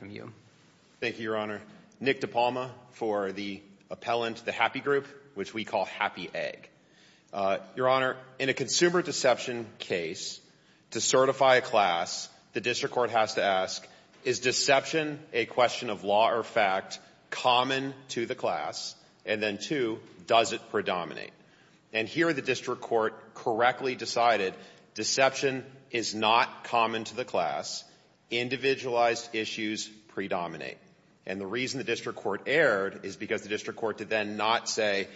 Thank you, Your Honor. Nick DePalma for the appellant, The Happy Group, which we call Happy Egg. Your Honor, in a consumer deception case, to certify a class, the district court has to ask, is deception a question of law or fact common to the class? And then two, does it predominate? And here the district court correctly decided deception is not common to the class. Individualized issues predominate. And the reason the district court erred is because the district court did then not say,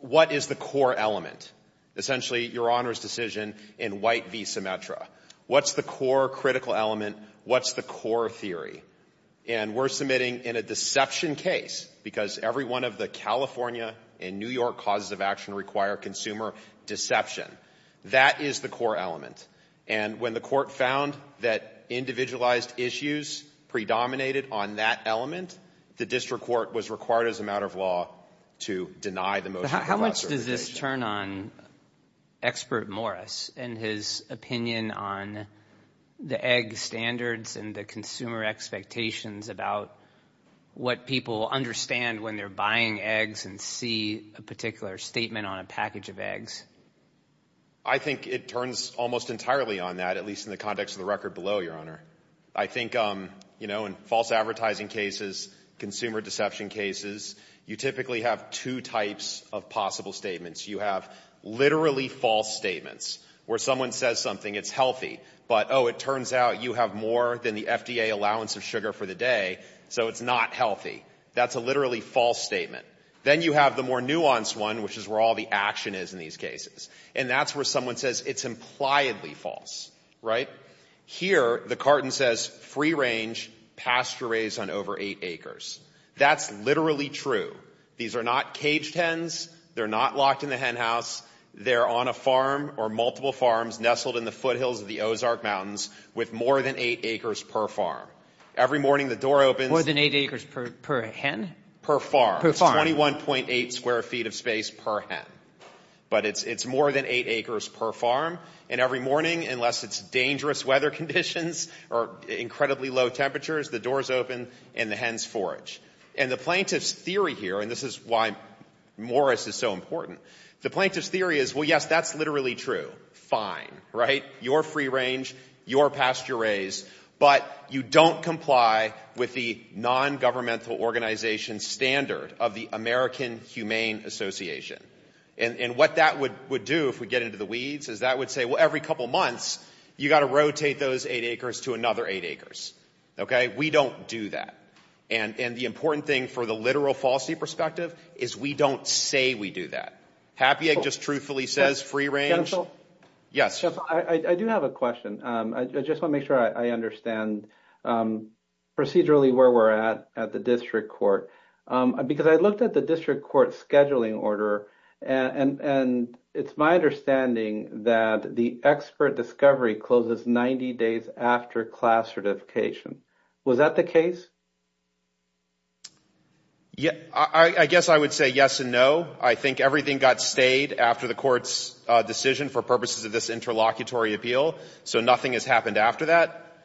what is the core element? Essentially, Your Honor's decision in White v. Symetra. What's the core critical element? What's the core theory? And we're submitting in a deception case, because every one of the California and New York causes of action require consumer deception. That is the core element. And when the court found that individualized issues predominated on that element, the district court was required as a matter of law to deny the motion for classification. How much does this turn on expert Morris and his opinion on the egg standards and the consumer expectations about what people understand when they're buying eggs and see a particular statement on a package of eggs? I think it turns almost entirely on that, at least in the context of the record below, Your Honor. I think, you know, in false advertising cases, consumer deception cases, you typically have two types of possible statements. You have literally false statements where someone says something, it's healthy, but, oh, it turns out you have more than the FDA allowance of sugar for the day, so it's not healthy. That's a literally false statement. Then you have the more nuanced one, which is where all the action is in these cases. And that's where someone says it's impliedly false. Right? Here, the carton says free range, pasture raised on over eight acres. That's literally true. These are not caged hens. They're not locked in the hen house. They're on a farm or multiple farms nestled in the foothills of the Ozark Mountains with more than eight acres per farm. Every morning the door opens. More than eight acres per hen? Per farm. It's 21.8 square feet of space per hen. But it's more than eight acres per farm, and every morning, unless it's dangerous weather conditions or incredibly low temperatures, the doors open and the hens forage. And the plaintiff's theory here, and this is why Morris is so important, the plaintiff's theory is, well, yes, that's literally true. Fine. Right? Your free range, your pasture raised, but you don't comply with the nongovernmental organization standard of the American Humane Association. And what that would do if we get into the weeds is that would say, well, every couple months, you've got to rotate those eight acres to another eight acres. Okay? We don't do that. And the important thing for the literal falsity perspective is we don't say we do that. Hapy Egg just truthfully says free range. Yes. I do have a question. I just want to make sure I understand procedurally where we're at at the district court, because I looked at the district court scheduling order, and it's my understanding that the expert discovery closes 90 days after class certification. Was that the case? Yeah, I guess I would say yes and no. I think everything got stayed after the court's decision for purposes of this interlocutory appeal, so nothing has happened after that.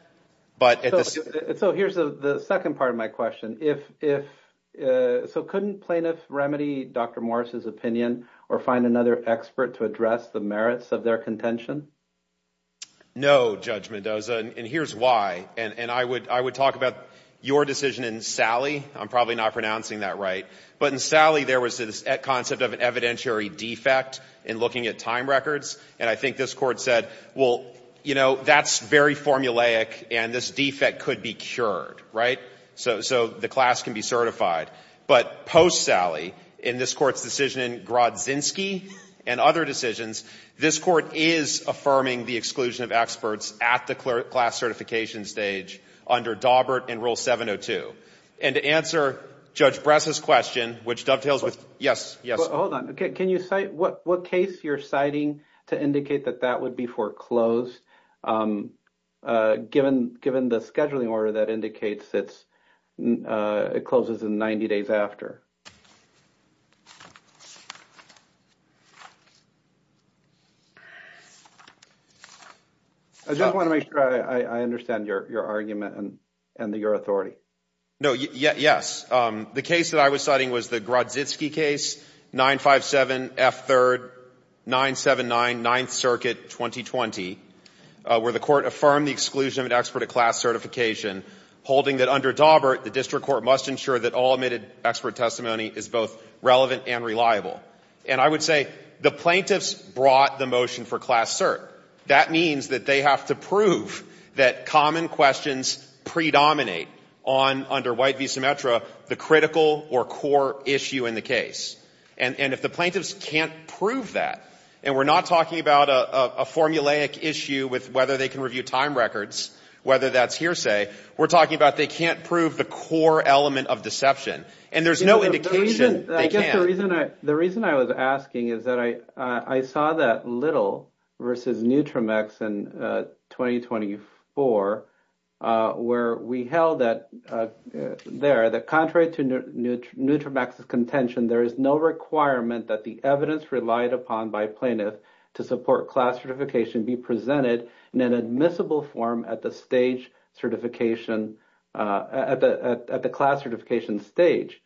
So here's the second part of my question. So couldn't plaintiff remedy Dr. Morris' opinion or find another expert to address the merits of their contention? No, Judge Mendoza, and here's why. And I would talk about your decision in Sally. I'm probably not pronouncing that right. But in Sally, there was this concept of an evidentiary defect in looking at time records, and I think this Court said, well, you know, that's very formulaic, and this defect could be cured, right, so the class can be certified. But post-Sally, in this Court's decision in Grodzinski and other decisions, this Court is affirming the exclusion of experts at the class certification stage under Dawbert in Rule 702. And to answer Judge Bress' question, which dovetails with yes, yes. Hold on. Can you cite what case you're citing to indicate that that would be foreclosed, given the scheduling order that indicates it closes in 90 days after? I just want to make sure I understand your argument and your authority. No, yes. The case that I was citing was the Grodzinski case, 957F3, 979, 9th Circuit, 2020, where the Court affirmed the exclusion of an expert at class certification, holding that under Dawbert, the district court must ensure that all admitted expert testimony is both relevant and reliable. And I would say the plaintiffs brought the motion for class cert. That means that they have to prove that common questions predominate on, under White v. Symetra, the critical or core issue in the case. And if the plaintiffs can't prove that, and we're not talking about a formulaic issue with whether they can review time records, whether that's hearsay, we're talking about they can't prove the core element of deception. And there's no indication they can't. I guess the reason I was asking is that I saw that Little v. Neutromex in 2024, where we held that there, that contrary to Neutromex's contention, there is no requirement that the evidence relied upon by plaintiffs to support class certification be presented in an admissible form at the stage certification, at the class certification stage.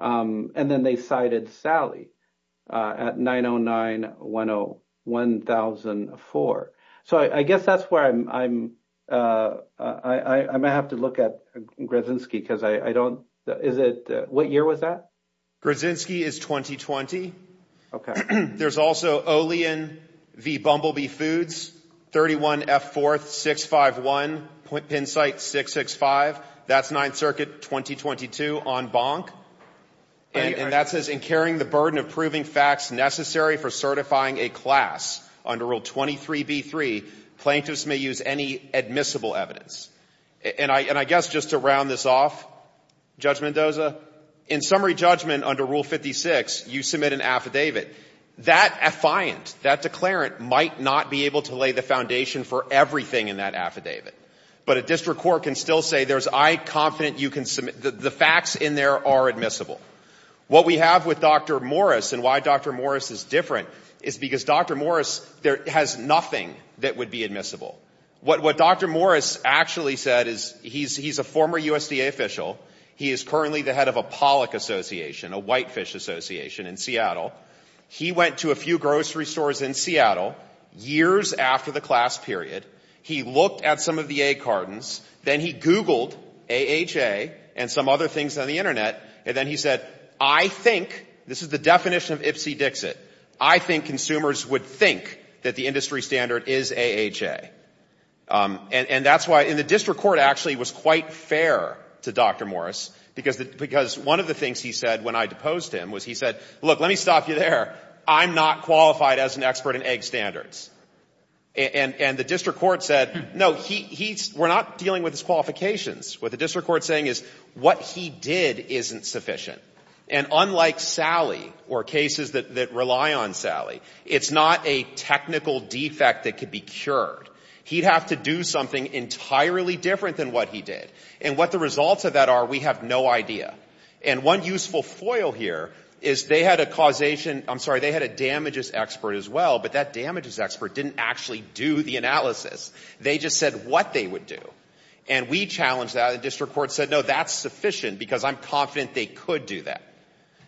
And then they cited Sally at 909-1004. So I guess that's where I'm, I might have to look at Graczynski because I don't, is it, what year was that? Graczynski is 2020. Okay. There's also Olean v. Bumblebee Foods, 31F4651, pin site 665. That's Ninth Circuit 2022 on Bonk. And that says, in carrying the burden of proving facts necessary for certifying a class under Rule 23b-3, plaintiffs may use any admissible evidence. And I guess just to round this off, Judge Mendoza, in summary judgment under Rule 56, you submit an affidavit. That affiant, that declarant might not be able to lay the foundation for everything in that affidavit. But a district court can still say there's, I'm confident you can submit, the facts in there are admissible. What we have with Dr. Morris and why Dr. Morris is different is because Dr. Morris has nothing that would be admissible. What Dr. Morris actually said is, he's a former USDA official. He is currently the head of a pollock association, a whitefish association in Seattle. He went to a few grocery stores in Seattle years after the class period. He looked at some of the egg cartons. Then he Googled AHA and some other things on the Internet. And then he said, I think, this is the definition of Ipsy Dixit, I think consumers would think that the industry standard is AHA. And that's why, and the district court actually was quite fair to Dr. Morris, because one of the things he said when I deposed him was he said, look, let me stop you there. I'm not qualified as an expert in egg standards. And the district court said, no, we're not dealing with his qualifications. What the district court is saying is what he did isn't sufficient. And unlike Sally or cases that rely on Sally, it's not a technical defect that could be cured. He'd have to do something entirely different than what he did. And what the results of that are, we have no idea. And one useful foil here is they had a causation, I'm sorry, they had a damages expert as well, but that damages expert didn't actually do the analysis. They just said what they would do. And we challenged that. And the district court said, no, that's sufficient because I'm confident they could do that.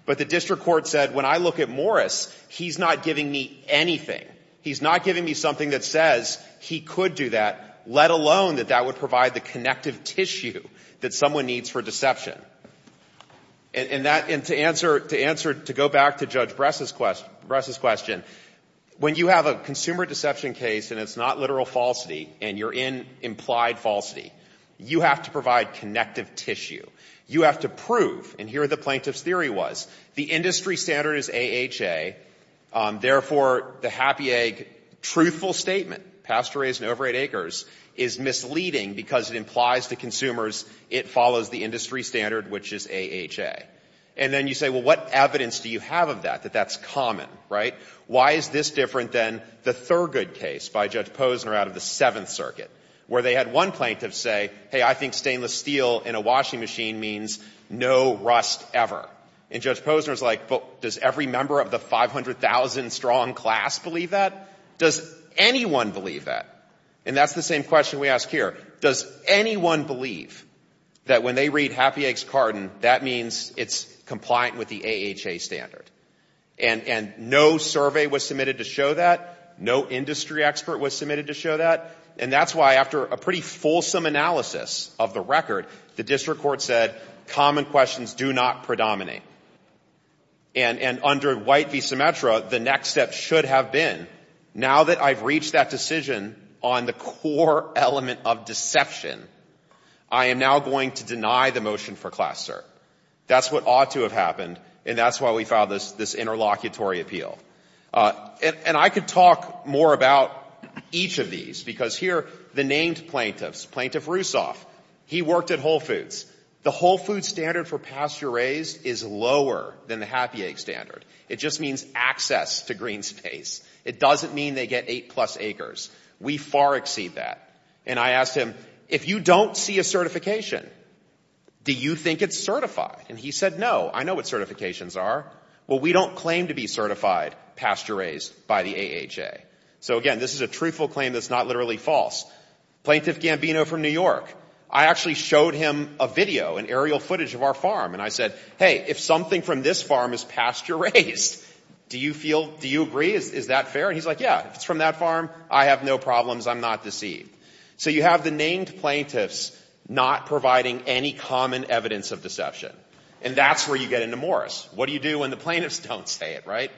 But the district court said, when I look at Morris, he's not giving me anything. He's not giving me something that says he could do that, let alone that that would provide the connective tissue that someone needs for deception. And to answer, to go back to Judge Bress's question, when you have a consumer deception case and it's not literal falsity and you're in implied falsity, you have to provide connective tissue. You have to prove, and here the plaintiff's theory was, the industry standard is AHA, therefore the happy egg truthful statement, pasture raised in over 8 acres, is misleading because it implies to consumers it follows the industry standard, which is AHA. And then you say, well, what evidence do you have of that, that that's common, right? Why is this different than the Thurgood case by Judge Posner out of the Seventh Circuit, where they had one plaintiff say, hey, I think stainless steel in a washing machine means no rust ever. And Judge Posner's like, but does every member of the 500,000-strong class believe that? Does anyone believe that? And that's the same question we ask here. Does anyone believe that when they read happy eggs carton, that means it's compliant with the AHA standard? And no survey was submitted to show that. No industry expert was submitted to show that. And that's why after a pretty fulsome analysis of the record, the district court said common questions do not predominate. And under White v. Symmetra, the next step should have been, now that I've reached that decision on the core element of deception, I am now going to deny the motion for class cert. That's what ought to have happened, and that's why we filed this interlocutory appeal. And I could talk more about each of these, because here the named plaintiffs, Plaintiff Rousseff, he worked at Whole Foods. The Whole Foods standard for pasture-raised is lower than the happy egg standard. It just means access to green space. It doesn't mean they get eight-plus acres. We far exceed that. And I asked him, if you don't see a certification, do you think it's certified? And he said, no, I know what certifications are. Well, we don't claim to be certified pasture-raised by the AHA. So, again, this is a truthful claim that's not literally false. Plaintiff Gambino from New York. I actually showed him a video, an aerial footage of our farm, and I said, hey, if something from this farm is pasture-raised, do you feel, do you agree? Is that fair? And he's like, yeah, if it's from that farm, I have no problems. I'm not deceived. So you have the named plaintiffs not providing any common evidence of deception. And that's where you get into Morris. What do you do when the plaintiffs don't say it, right?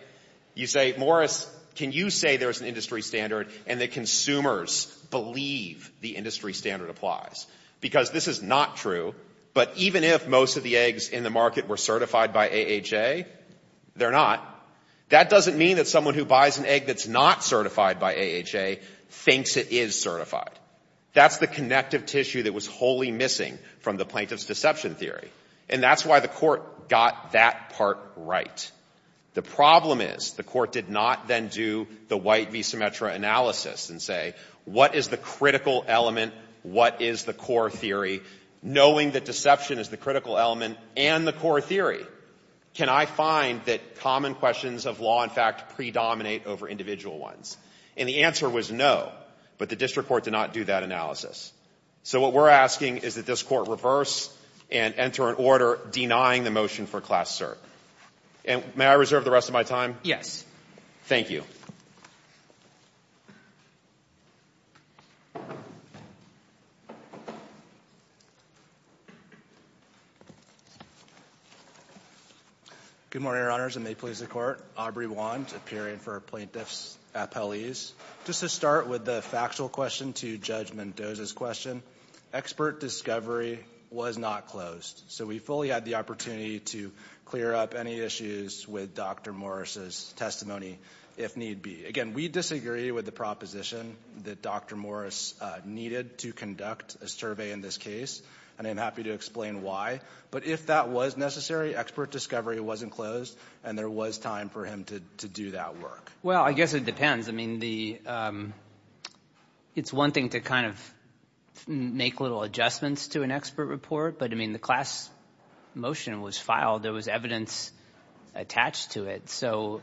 You say, Morris, can you say there's an industry standard and that consumers believe the industry standard applies? Because this is not true, but even if most of the eggs in the market were certified by AHA, they're not. That doesn't mean that someone who buys an egg that's not certified by AHA thinks it is certified. That's the connective tissue that was wholly missing from the plaintiff's deception theory. And that's why the court got that part right. The problem is the court did not then do the white v. Symmetra analysis and say, what is the critical element, what is the core theory, knowing that deception is the critical element and the core theory? Can I find that common questions of law, in fact, predominate over individual ones? And the answer was no, but the district court did not do that analysis. So what we're asking is that this court reverse and enter an order denying the motion for class cert. And may I reserve the rest of my time? Yes. Thank you. Good morning, Your Honors, and may it please the Court. Aubrey Wand, appearing for plaintiff's appellees. Just to start with the factual question to Judge Mendoza's question, expert discovery was not closed. So we fully had the opportunity to clear up any issues with Dr. Morris' testimony, if need be. Again, we disagree with the proposition that Dr. Morris needed to conduct a survey in this case, and I'm happy to explain why. But if that was necessary, expert discovery wasn't closed, and there was time for him to do that work. Well, I guess it depends. I mean, it's one thing to kind of make little adjustments to an expert report, but, I mean, the class motion was filed. There was evidence attached to it. So,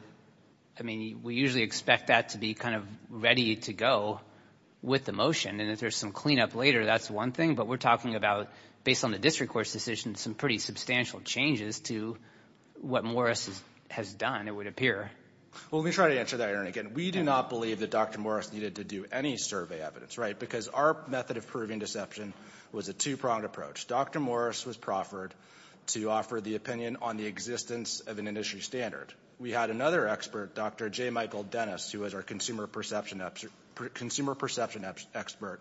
I mean, we usually expect that to be kind of ready to go with the motion, and if there's some cleanup later, that's one thing. But we're talking about, based on the district court's decision, some pretty substantial changes to what Morris has done, it would appear. Well, let me try to answer that, Aaron, again. We do not believe that Dr. Morris needed to do any survey evidence, right, because our method of proving deception was a two-pronged approach. Dr. Morris was proffered to offer the opinion on the existence of an industry standard. We had another expert, Dr. J. Michael Dennis, who was our consumer perception expert,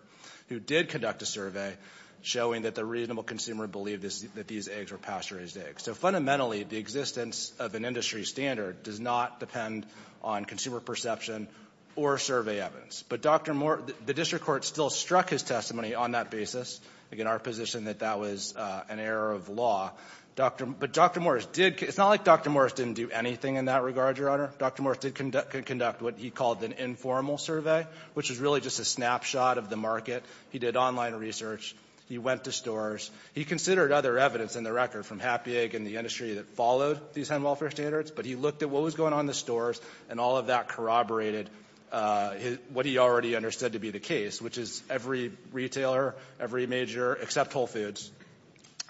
who did conduct a survey showing that the reasonable consumer believed that these eggs were pasture-raised eggs. So, fundamentally, the existence of an industry standard does not depend on consumer perception or survey evidence. But Dr. Morris, the district court still struck his testimony on that basis. Again, our position that that was an error of law. But Dr. Morris did, it's not like Dr. Morris didn't do anything in that regard, Your Honor. Dr. Morris did conduct what he called an informal survey, which was really just a snapshot of the market. He did online research. He went to stores. He considered other evidence in the record from Happy Egg and the industry that followed these hen welfare standards, but he looked at what was going on in the stores, and all of that corroborated what he already understood to be the case, which is every retailer, every major, except Whole Foods,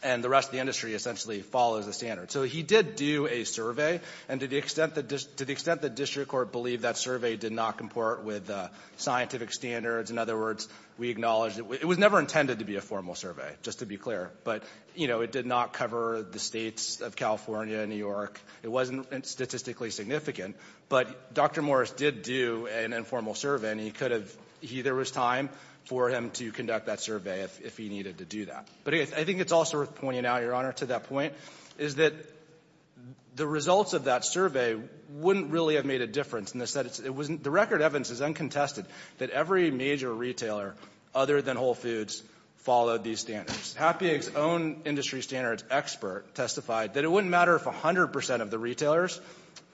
and the rest of the industry essentially follows the standard. So he did do a survey, and to the extent that district court believed that survey did not comport with scientific standards, in other words, we acknowledge that it was never intended to be a formal survey, just to be clear. But, you know, it did not cover the states of California and New York. It wasn't statistically significant. But Dr. Morris did do an informal survey, and he could have, there was time for him to conduct that survey if he needed to do that. But I think it's also worth pointing out, Your Honor, to that point, is that the results of that survey wouldn't really have made a difference. The record evidence is uncontested that every major retailer, other than Whole Foods, followed these standards. Happy Egg's own industry standards expert testified that it wouldn't matter if 100% of the retailers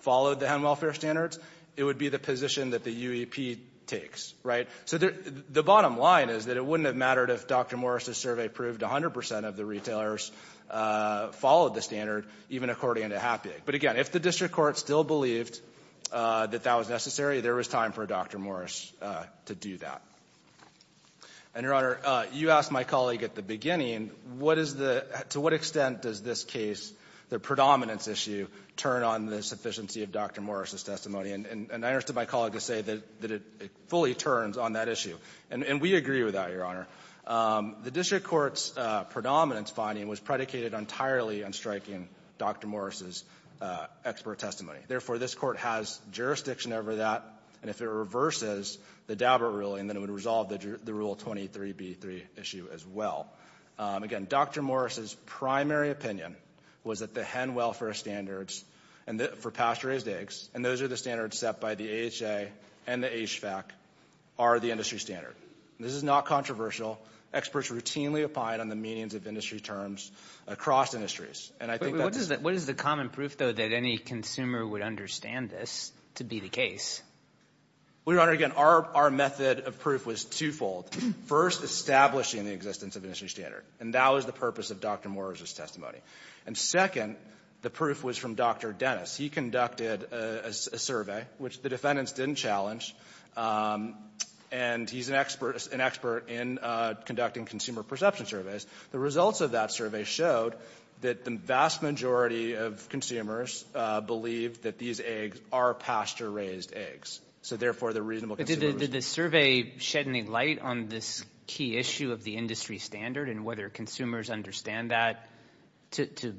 followed the hen welfare standards. It would be the position that the UEP takes, right? So the bottom line is that it wouldn't have mattered if Dr. Morris's survey proved 100% of the retailers followed the standard, even according to Happy Egg. But, again, if the district court still believed that that was necessary, there was time for Dr. Morris to do that. And, Your Honor, you asked my colleague at the beginning, what is the, to what extent does this case, the predominance issue, turn on the sufficiency of Dr. Morris's testimony? And I asked my colleague to say that it fully turns on that issue. And we agree with that, Your Honor. The district court's predominance finding was predicated entirely on striking Dr. Morris's expert testimony. Therefore, this court has jurisdiction over that. And if it reverses the Daubert ruling, then it would resolve the Rule 23b3 issue as well. Again, Dr. Morris's primary opinion was that the hen welfare standards for pasture-raised eggs, and those are the standards set by the AHA and the HVAC, are the industry standard. This is not controversial. Experts routinely opine on the meanings of industry terms across industries. And I think that's— What is the common proof, though, that any consumer would understand this to be the case? Well, Your Honor, again, our method of proof was twofold. First, establishing the existence of industry standard. And that was the purpose of Dr. Morris's testimony. And, second, the proof was from Dr. Dennis. He conducted a survey, which the defendants didn't challenge. And he's an expert in conducting consumer perception surveys. The results of that survey showed that the vast majority of consumers believe that these eggs are pasture-raised eggs. So, therefore, the reasonable— Did the survey shed any light on this key issue of the industry standard and whether consumers understand that to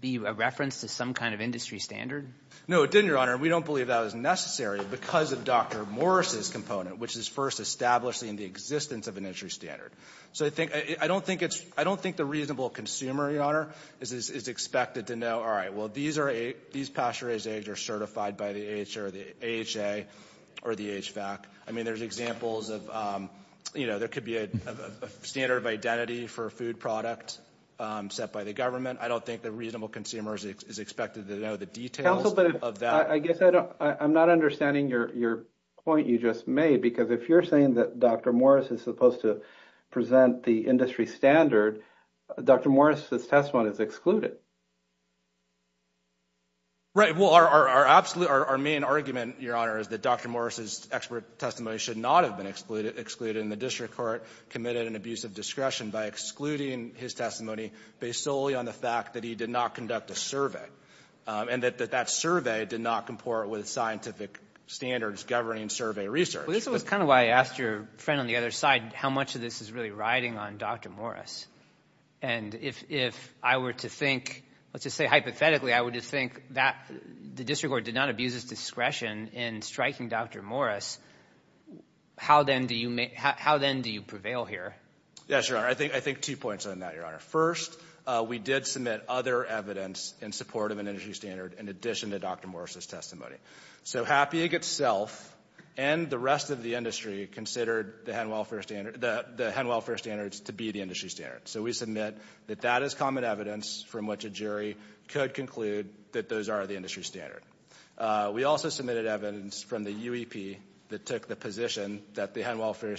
be a reference to some kind of industry standard? No, it didn't, Your Honor. We don't believe that was necessary because of Dr. Morris's component, which is first establishing the existence of an industry standard. So I don't think it's—I don't think the reasonable consumer, Your Honor, is expected to know, all right, well, these pasture-raised eggs are certified by the AHA or the HVAC. I mean, there's examples of, you know, there could be a standard of identity for a food product set by the government. I don't think the reasonable consumer is expected to know the details of that. Well, I guess I don't—I'm not understanding your point you just made because if you're saying that Dr. Morris is supposed to present the industry standard, Dr. Morris's testimony is excluded. Right. Well, our absolute—our main argument, Your Honor, is that Dr. Morris's expert testimony should not have been excluded, and the district court committed an abuse of discretion by excluding his testimony based solely on the fact that he did not conduct a survey and that that survey did not comport with scientific standards governing survey research. Well, this was kind of why I asked your friend on the other side how much of this is really riding on Dr. Morris. And if I were to think—let's just say hypothetically, I would just think that the district court did not abuse its discretion in striking Dr. Morris, how then do you—how then do you prevail here? Yes, Your Honor, I think two points on that, Your Honor. First, we did submit other evidence in support of an industry standard in addition to Dr. Morris's testimony. So Happy Egg itself and the rest of the industry considered the hen welfare standards to be the industry standard. So we submit that that is common evidence from which a jury could conclude that those are the industry standard. We also submitted evidence from the UEP that took the position that the hen welfare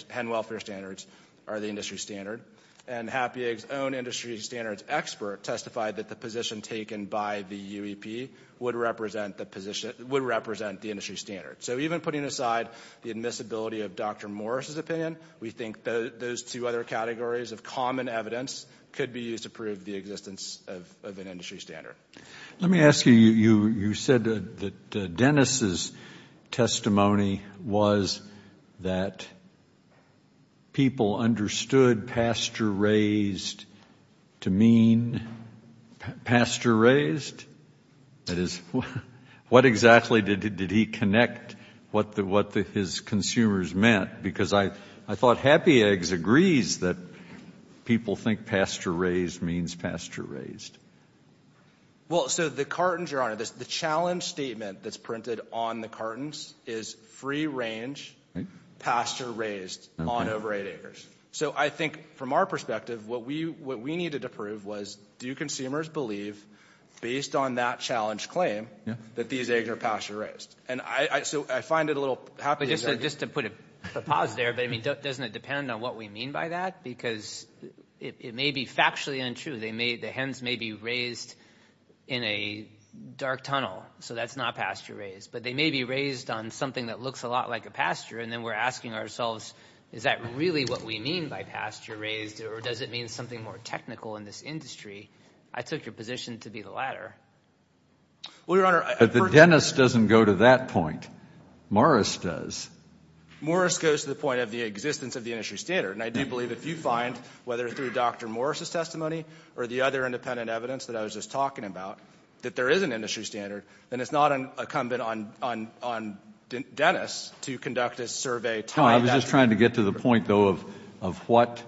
standards are the industry standard, and Happy Egg's own industry standards expert testified that the position taken by the UEP would represent the position—would represent the industry standard. So even putting aside the admissibility of Dr. Morris's opinion, we think those two other categories of common evidence could be used to prove the existence of an industry standard. Let me ask you, you said that Dennis' testimony was that people understood pasture-raised to mean pasture-raised? That is, what exactly did he connect what his consumers meant? Because I thought Happy Egg agrees that people think pasture-raised means pasture-raised. Well, so the cartons, Your Honor, the challenge statement that's printed on the cartons is free-range, pasture-raised on over 8 acres. So I think from our perspective, what we needed to prove was, do consumers believe, based on that challenge claim, that these eggs are pasture-raised? And so I find it a little— Just to put a pause there, but doesn't it depend on what we mean by that? Because it may be factually untrue. The hens may be raised in a dark tunnel, so that's not pasture-raised. But they may be raised on something that looks a lot like a pasture, and then we're asking ourselves, is that really what we mean by pasture-raised, or does it mean something more technical in this industry? I took your position to be the latter. Well, Your Honor— But the Dennis doesn't go to that point. Morris does. Morris goes to the point of the existence of the industry standard. And I do believe if you find, whether through Dr. Morris' testimony or the other independent evidence that I was just talking about, that there is an industry standard, then it's not incumbent on Dennis to conduct a survey— No, I was just trying to get to the point, though, of what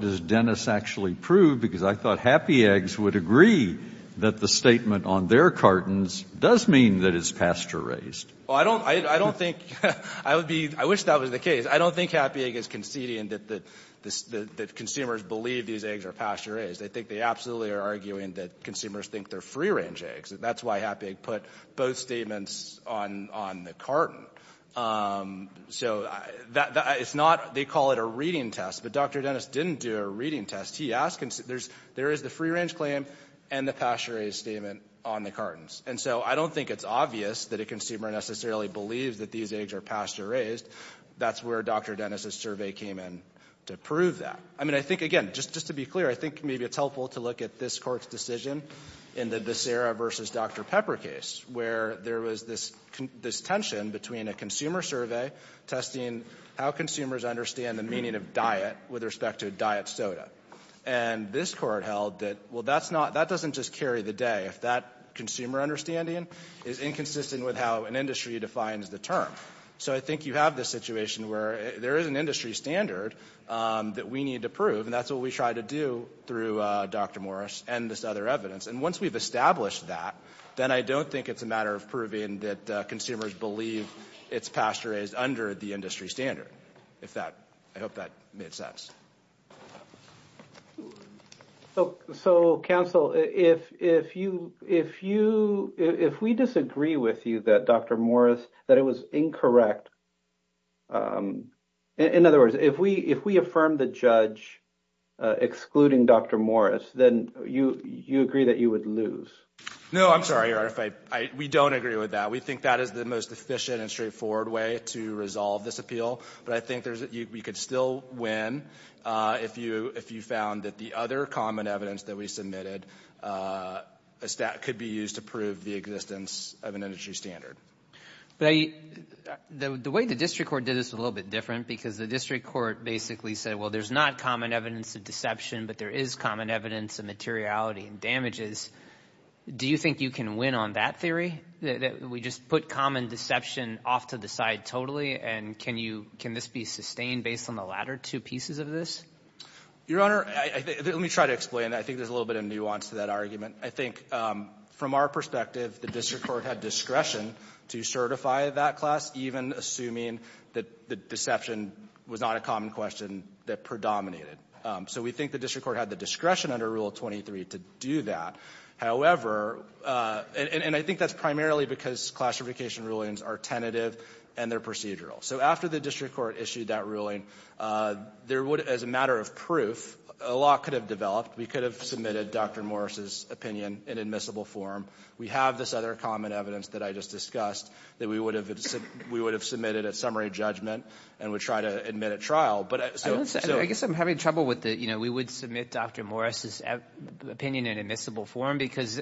does Dennis actually prove? Because I thought Happy Eggs would agree that the statement on their cartons does mean that it's pasture-raised. Well, I don't think—I wish that was the case. I don't think Happy Egg is conceding that consumers believe these eggs are pasture-raised. I think they absolutely are arguing that consumers think they're free-range eggs. That's why Happy Egg put both statements on the carton. So it's not—they call it a reading test, but Dr. Dennis didn't do a reading test. He asked—there is the free-range claim and the pasture-raised statement on the cartons. And so I don't think it's obvious that a consumer necessarily believes that these eggs are pasture-raised. That's where Dr. Dennis' survey came in to prove that. I mean, I think, again, just to be clear, I think maybe it's helpful to look at this Court's decision in the Desera v. Dr. Pepper case, where there was this tension between a consumer survey testing how consumers understand the meaning of diet with respect to a diet soda. And this Court held that, well, that's not—that doesn't just carry the day. That consumer understanding is inconsistent with how an industry defines the term. So I think you have this situation where there is an industry standard that we need to prove, and that's what we tried to do through Dr. Morris and this other evidence. And once we've established that, then I don't think it's a matter of proving that consumers believe it's pasture-raised under the industry standard, if that—I hope that made sense. So, counsel, if you—if we disagree with you that Dr. Morris—that it was incorrect— in other words, if we affirm the judge excluding Dr. Morris, then you agree that you would lose? No, I'm sorry, Your Honor, if I—we don't agree with that. We think that is the most efficient and straightforward way to resolve this appeal. But I think we could still win if you found that the other common evidence that we submitted could be used to prove the existence of an industry standard. The way the district court did this was a little bit different, because the district court basically said, well, there's not common evidence of deception, but there is common evidence of materiality and damages. Do you think you can win on that theory, that we just put common deception off to the side totally, and can you—can this be sustained based on the latter two pieces of this? Your Honor, let me try to explain. I think there's a little bit of nuance to that argument. I think from our perspective, the district court had discretion to certify that class, even assuming that the deception was not a common question that predominated. So we think the district court had the discretion under Rule 23 to do that. However, and I think that's primarily because classification rulings are tentative and they're procedural. So after the district court issued that ruling, there would as a matter of proof, a lot could have developed. We could have submitted Dr. Morris's opinion in admissible form. We have this other common evidence that I just discussed that we would have submitted at summary judgment and would try to admit at trial. I guess I'm having trouble with the, you know, we would submit Dr. Morris's opinion in admissible form because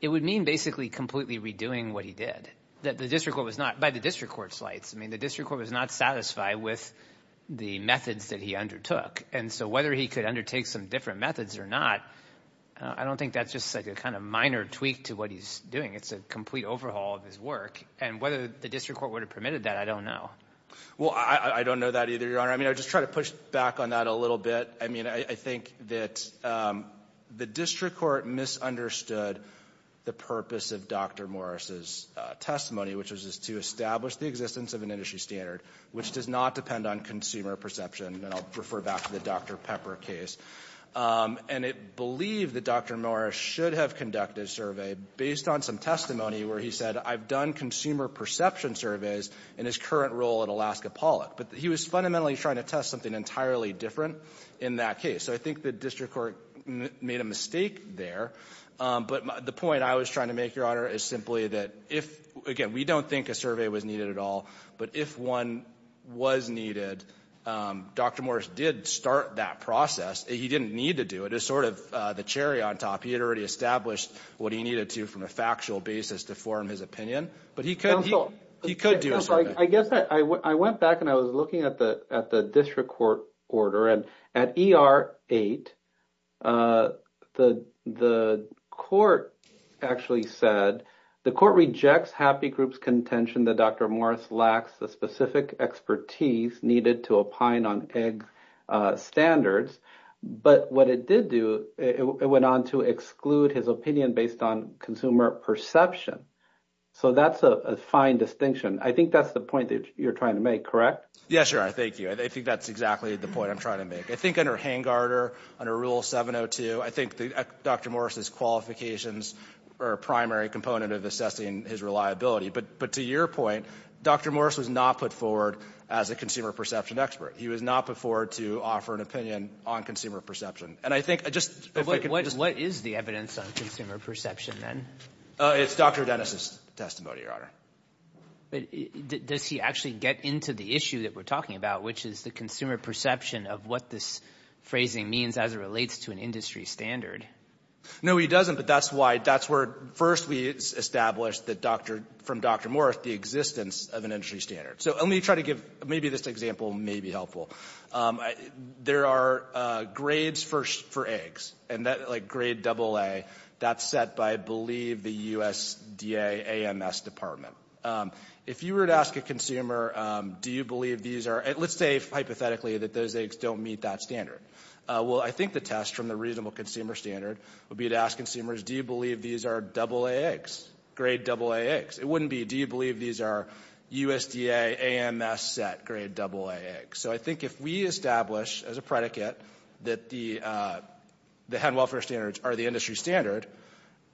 it would mean basically completely redoing what he did. That the district court was not—by the district court's lights, I mean, the district court was not satisfied with the methods that he undertook. And so whether he could undertake some different methods or not, I don't think that's just like a kind of minor tweak to what he's doing. It's a complete overhaul of his work. And whether the district court would have permitted that, I don't know. Well, I don't know that either, Your Honor. I mean, I just try to push back on that a little bit. I mean, I think that the district court misunderstood the purpose of Dr. Morris's testimony, which was to establish the existence of an industry standard, which does not depend on consumer perception. And I'll refer back to the Dr. Pepper case. And it believed that Dr. Morris should have conducted a survey based on some testimony where he said, I've done consumer perception surveys in his current role at Alaska Pollock. But he was fundamentally trying to test something entirely different in that case. So I think the district court made a mistake there. But the point I was trying to make, Your Honor, is simply that if— again, we don't think a survey was needed at all. But if one was needed, Dr. Morris did start that process. He didn't need to do it. It's sort of the cherry on top. He had already established what he needed to from a factual basis to form his opinion. But he could do a survey. I guess I went back and I was looking at the district court order. And at ER 8, the court actually said, the court rejects happy group's contention that Dr. Morris lacks the specific expertise needed to opine on egg standards. But what it did do, it went on to exclude his opinion based on consumer perception. So that's a fine distinction. I think that's the point that you're trying to make, correct? Yes, Your Honor. Thank you. I think that's exactly the point I'm trying to make. I think under Hangard or under Rule 702, I think Dr. Morris's qualifications are a primary component of assessing his reliability. But to your point, Dr. Morris was not put forward as a consumer perception expert. He was not put forward to offer an opinion on consumer perception. And I think I just — But what is the evidence on consumer perception, then? It's Dr. Dennis' testimony, Your Honor. But does he actually get into the issue that we're talking about, which is the consumer perception of what this phrasing means as it relates to an industry standard? No, he doesn't. But that's why — that's where first we established that Dr. — from Dr. Morris, the existence of an industry standard. So let me try to give — maybe this example may be helpful. There are grades for eggs. And that, like, grade AA, that's set by, I believe, the USDA AMS Department. If you were to ask a consumer, do you believe these are — let's say, hypothetically, that those eggs don't meet that standard. Well, I think the test from the reasonable consumer standard would be to ask consumers, do you believe these are AA eggs, grade AA eggs? It wouldn't be, do you believe these are USDA AMS-set grade AA eggs? So I think if we establish as a predicate that the hen welfare standards are the industry standard,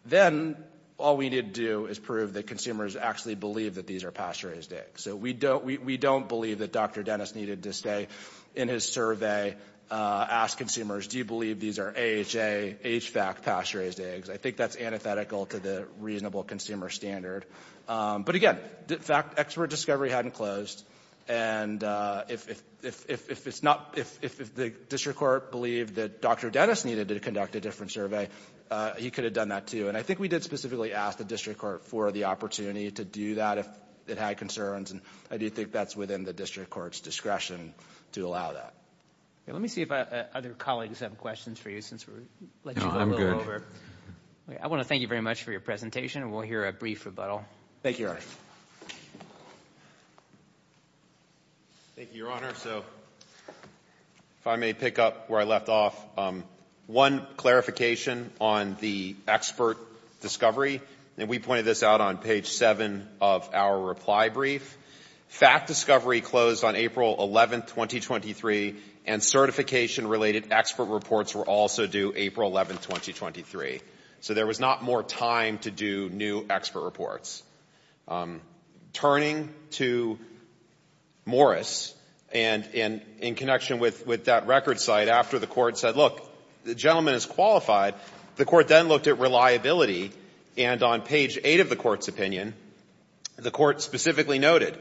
then all we need to do is prove that consumers actually believe that these are pasture-raised eggs. So we don't believe that Dr. Dennis needed to stay in his survey, ask consumers, do you believe these are AHA, HVAC pasture-raised eggs? I think that's antithetical to the reasonable consumer standard. But again, expert discovery hadn't closed. And if it's not — if the district court believed that Dr. Dennis needed to conduct a different survey, he could have done that, too. And I think we did specifically ask the district court for the opportunity to do that if it had concerns. And I do think that's within the district court's discretion to allow that. Let me see if other colleagues have questions for you since we let you go a little over. I want to thank you very much for your presentation, and we'll hear a brief rebuttal. Thank you, Your Honor. Thank you, Your Honor. So if I may pick up where I left off, one clarification on the expert discovery, and we pointed this out on page 7 of our reply brief. Fact discovery closed on April 11, 2023, and certification-related expert reports were also due April 11, 2023. So there was not more time to do new expert reports. Turning to Morris, and in connection with that record site, after the court said, look, the gentleman is qualified, the court then looked at reliability, and on page 8 of the court's opinion, the court specifically noted,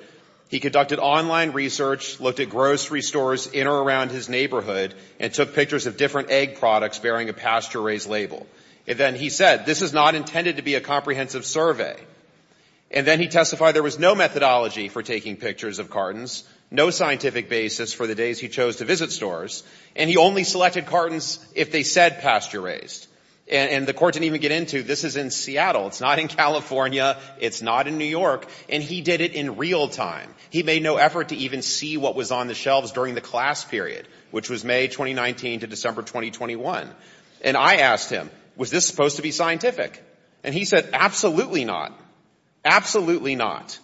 he conducted online research, looked at grocery stores in or around his neighborhood, and took pictures of different egg products bearing a pasture-raised label. And then he said, this is not intended to be a comprehensive survey. And then he testified there was no methodology for taking pictures of cartons, no scientific basis for the days he chose to visit stores, and he only selected cartons if they said pasture-raised. And the court didn't even get into, this is in Seattle, it's not in California, it's not in New York, and he did it in real time. He made no effort to even see what was on the shelves during the class period, which was May 2019 to December 2021. And I asked him, was this supposed to be scientific? And he said, absolutely not. Absolutely not.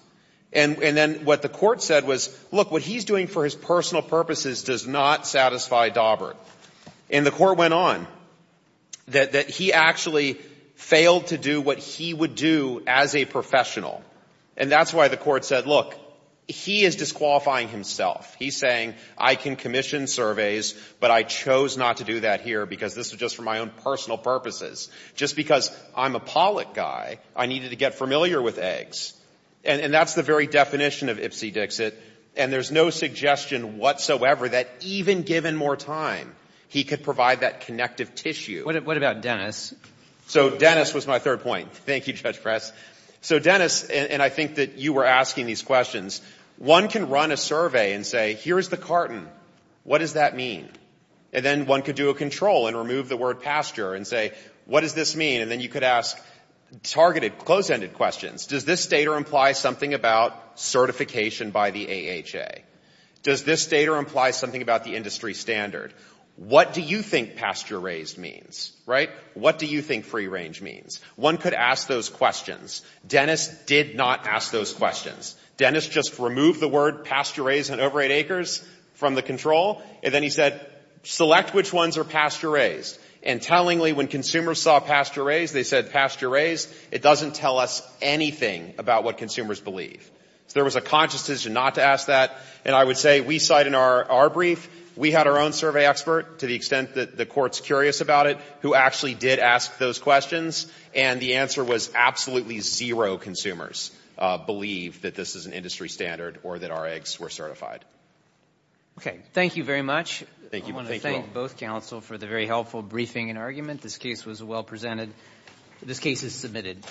And then what the court said was, look, what he's doing for his personal purposes does not satisfy Daubert. And the court went on that he actually failed to do what he would do as a professional. And that's why the court said, look, he is disqualifying himself. He's saying, I can commission surveys, but I chose not to do that here because this is just for my own personal purposes. Just because I'm a Pollack guy, I needed to get familiar with eggs. And that's the very definition of Ipsy Dixit. And there's no suggestion whatsoever that even given more time, he could provide that connective tissue. What about Dennis? So Dennis was my third point. Thank you, Judge Press. So Dennis, and I think that you were asking these questions, one can run a survey and say, here is the carton. What does that mean? And then one could do a control and remove the word pasture and say, what does this mean? And then you could ask targeted, close-ended questions. Does this data imply something about certification by the AHA? Does this data imply something about the industry standard? What do you think pasture raised means? What do you think free range means? One could ask those questions. Dennis did not ask those questions. Dennis just removed the word pasture raised and over 8 acres from the control, and then he said, select which ones are pasture raised. And tellingly, when consumers saw pasture raised, they said, it doesn't tell us anything about what consumers believe. So there was a conscious decision not to ask that. And I would say we cite in our brief, we had our own survey expert, to the extent that the Court's curious about it, who actually did ask those questions, and the answer was absolutely zero consumers believe that this is an industry standard or that our eggs were certified. Okay. Thank you very much. I want to thank both counsel for the very helpful briefing and argument. This case was well presented. This case is submitted.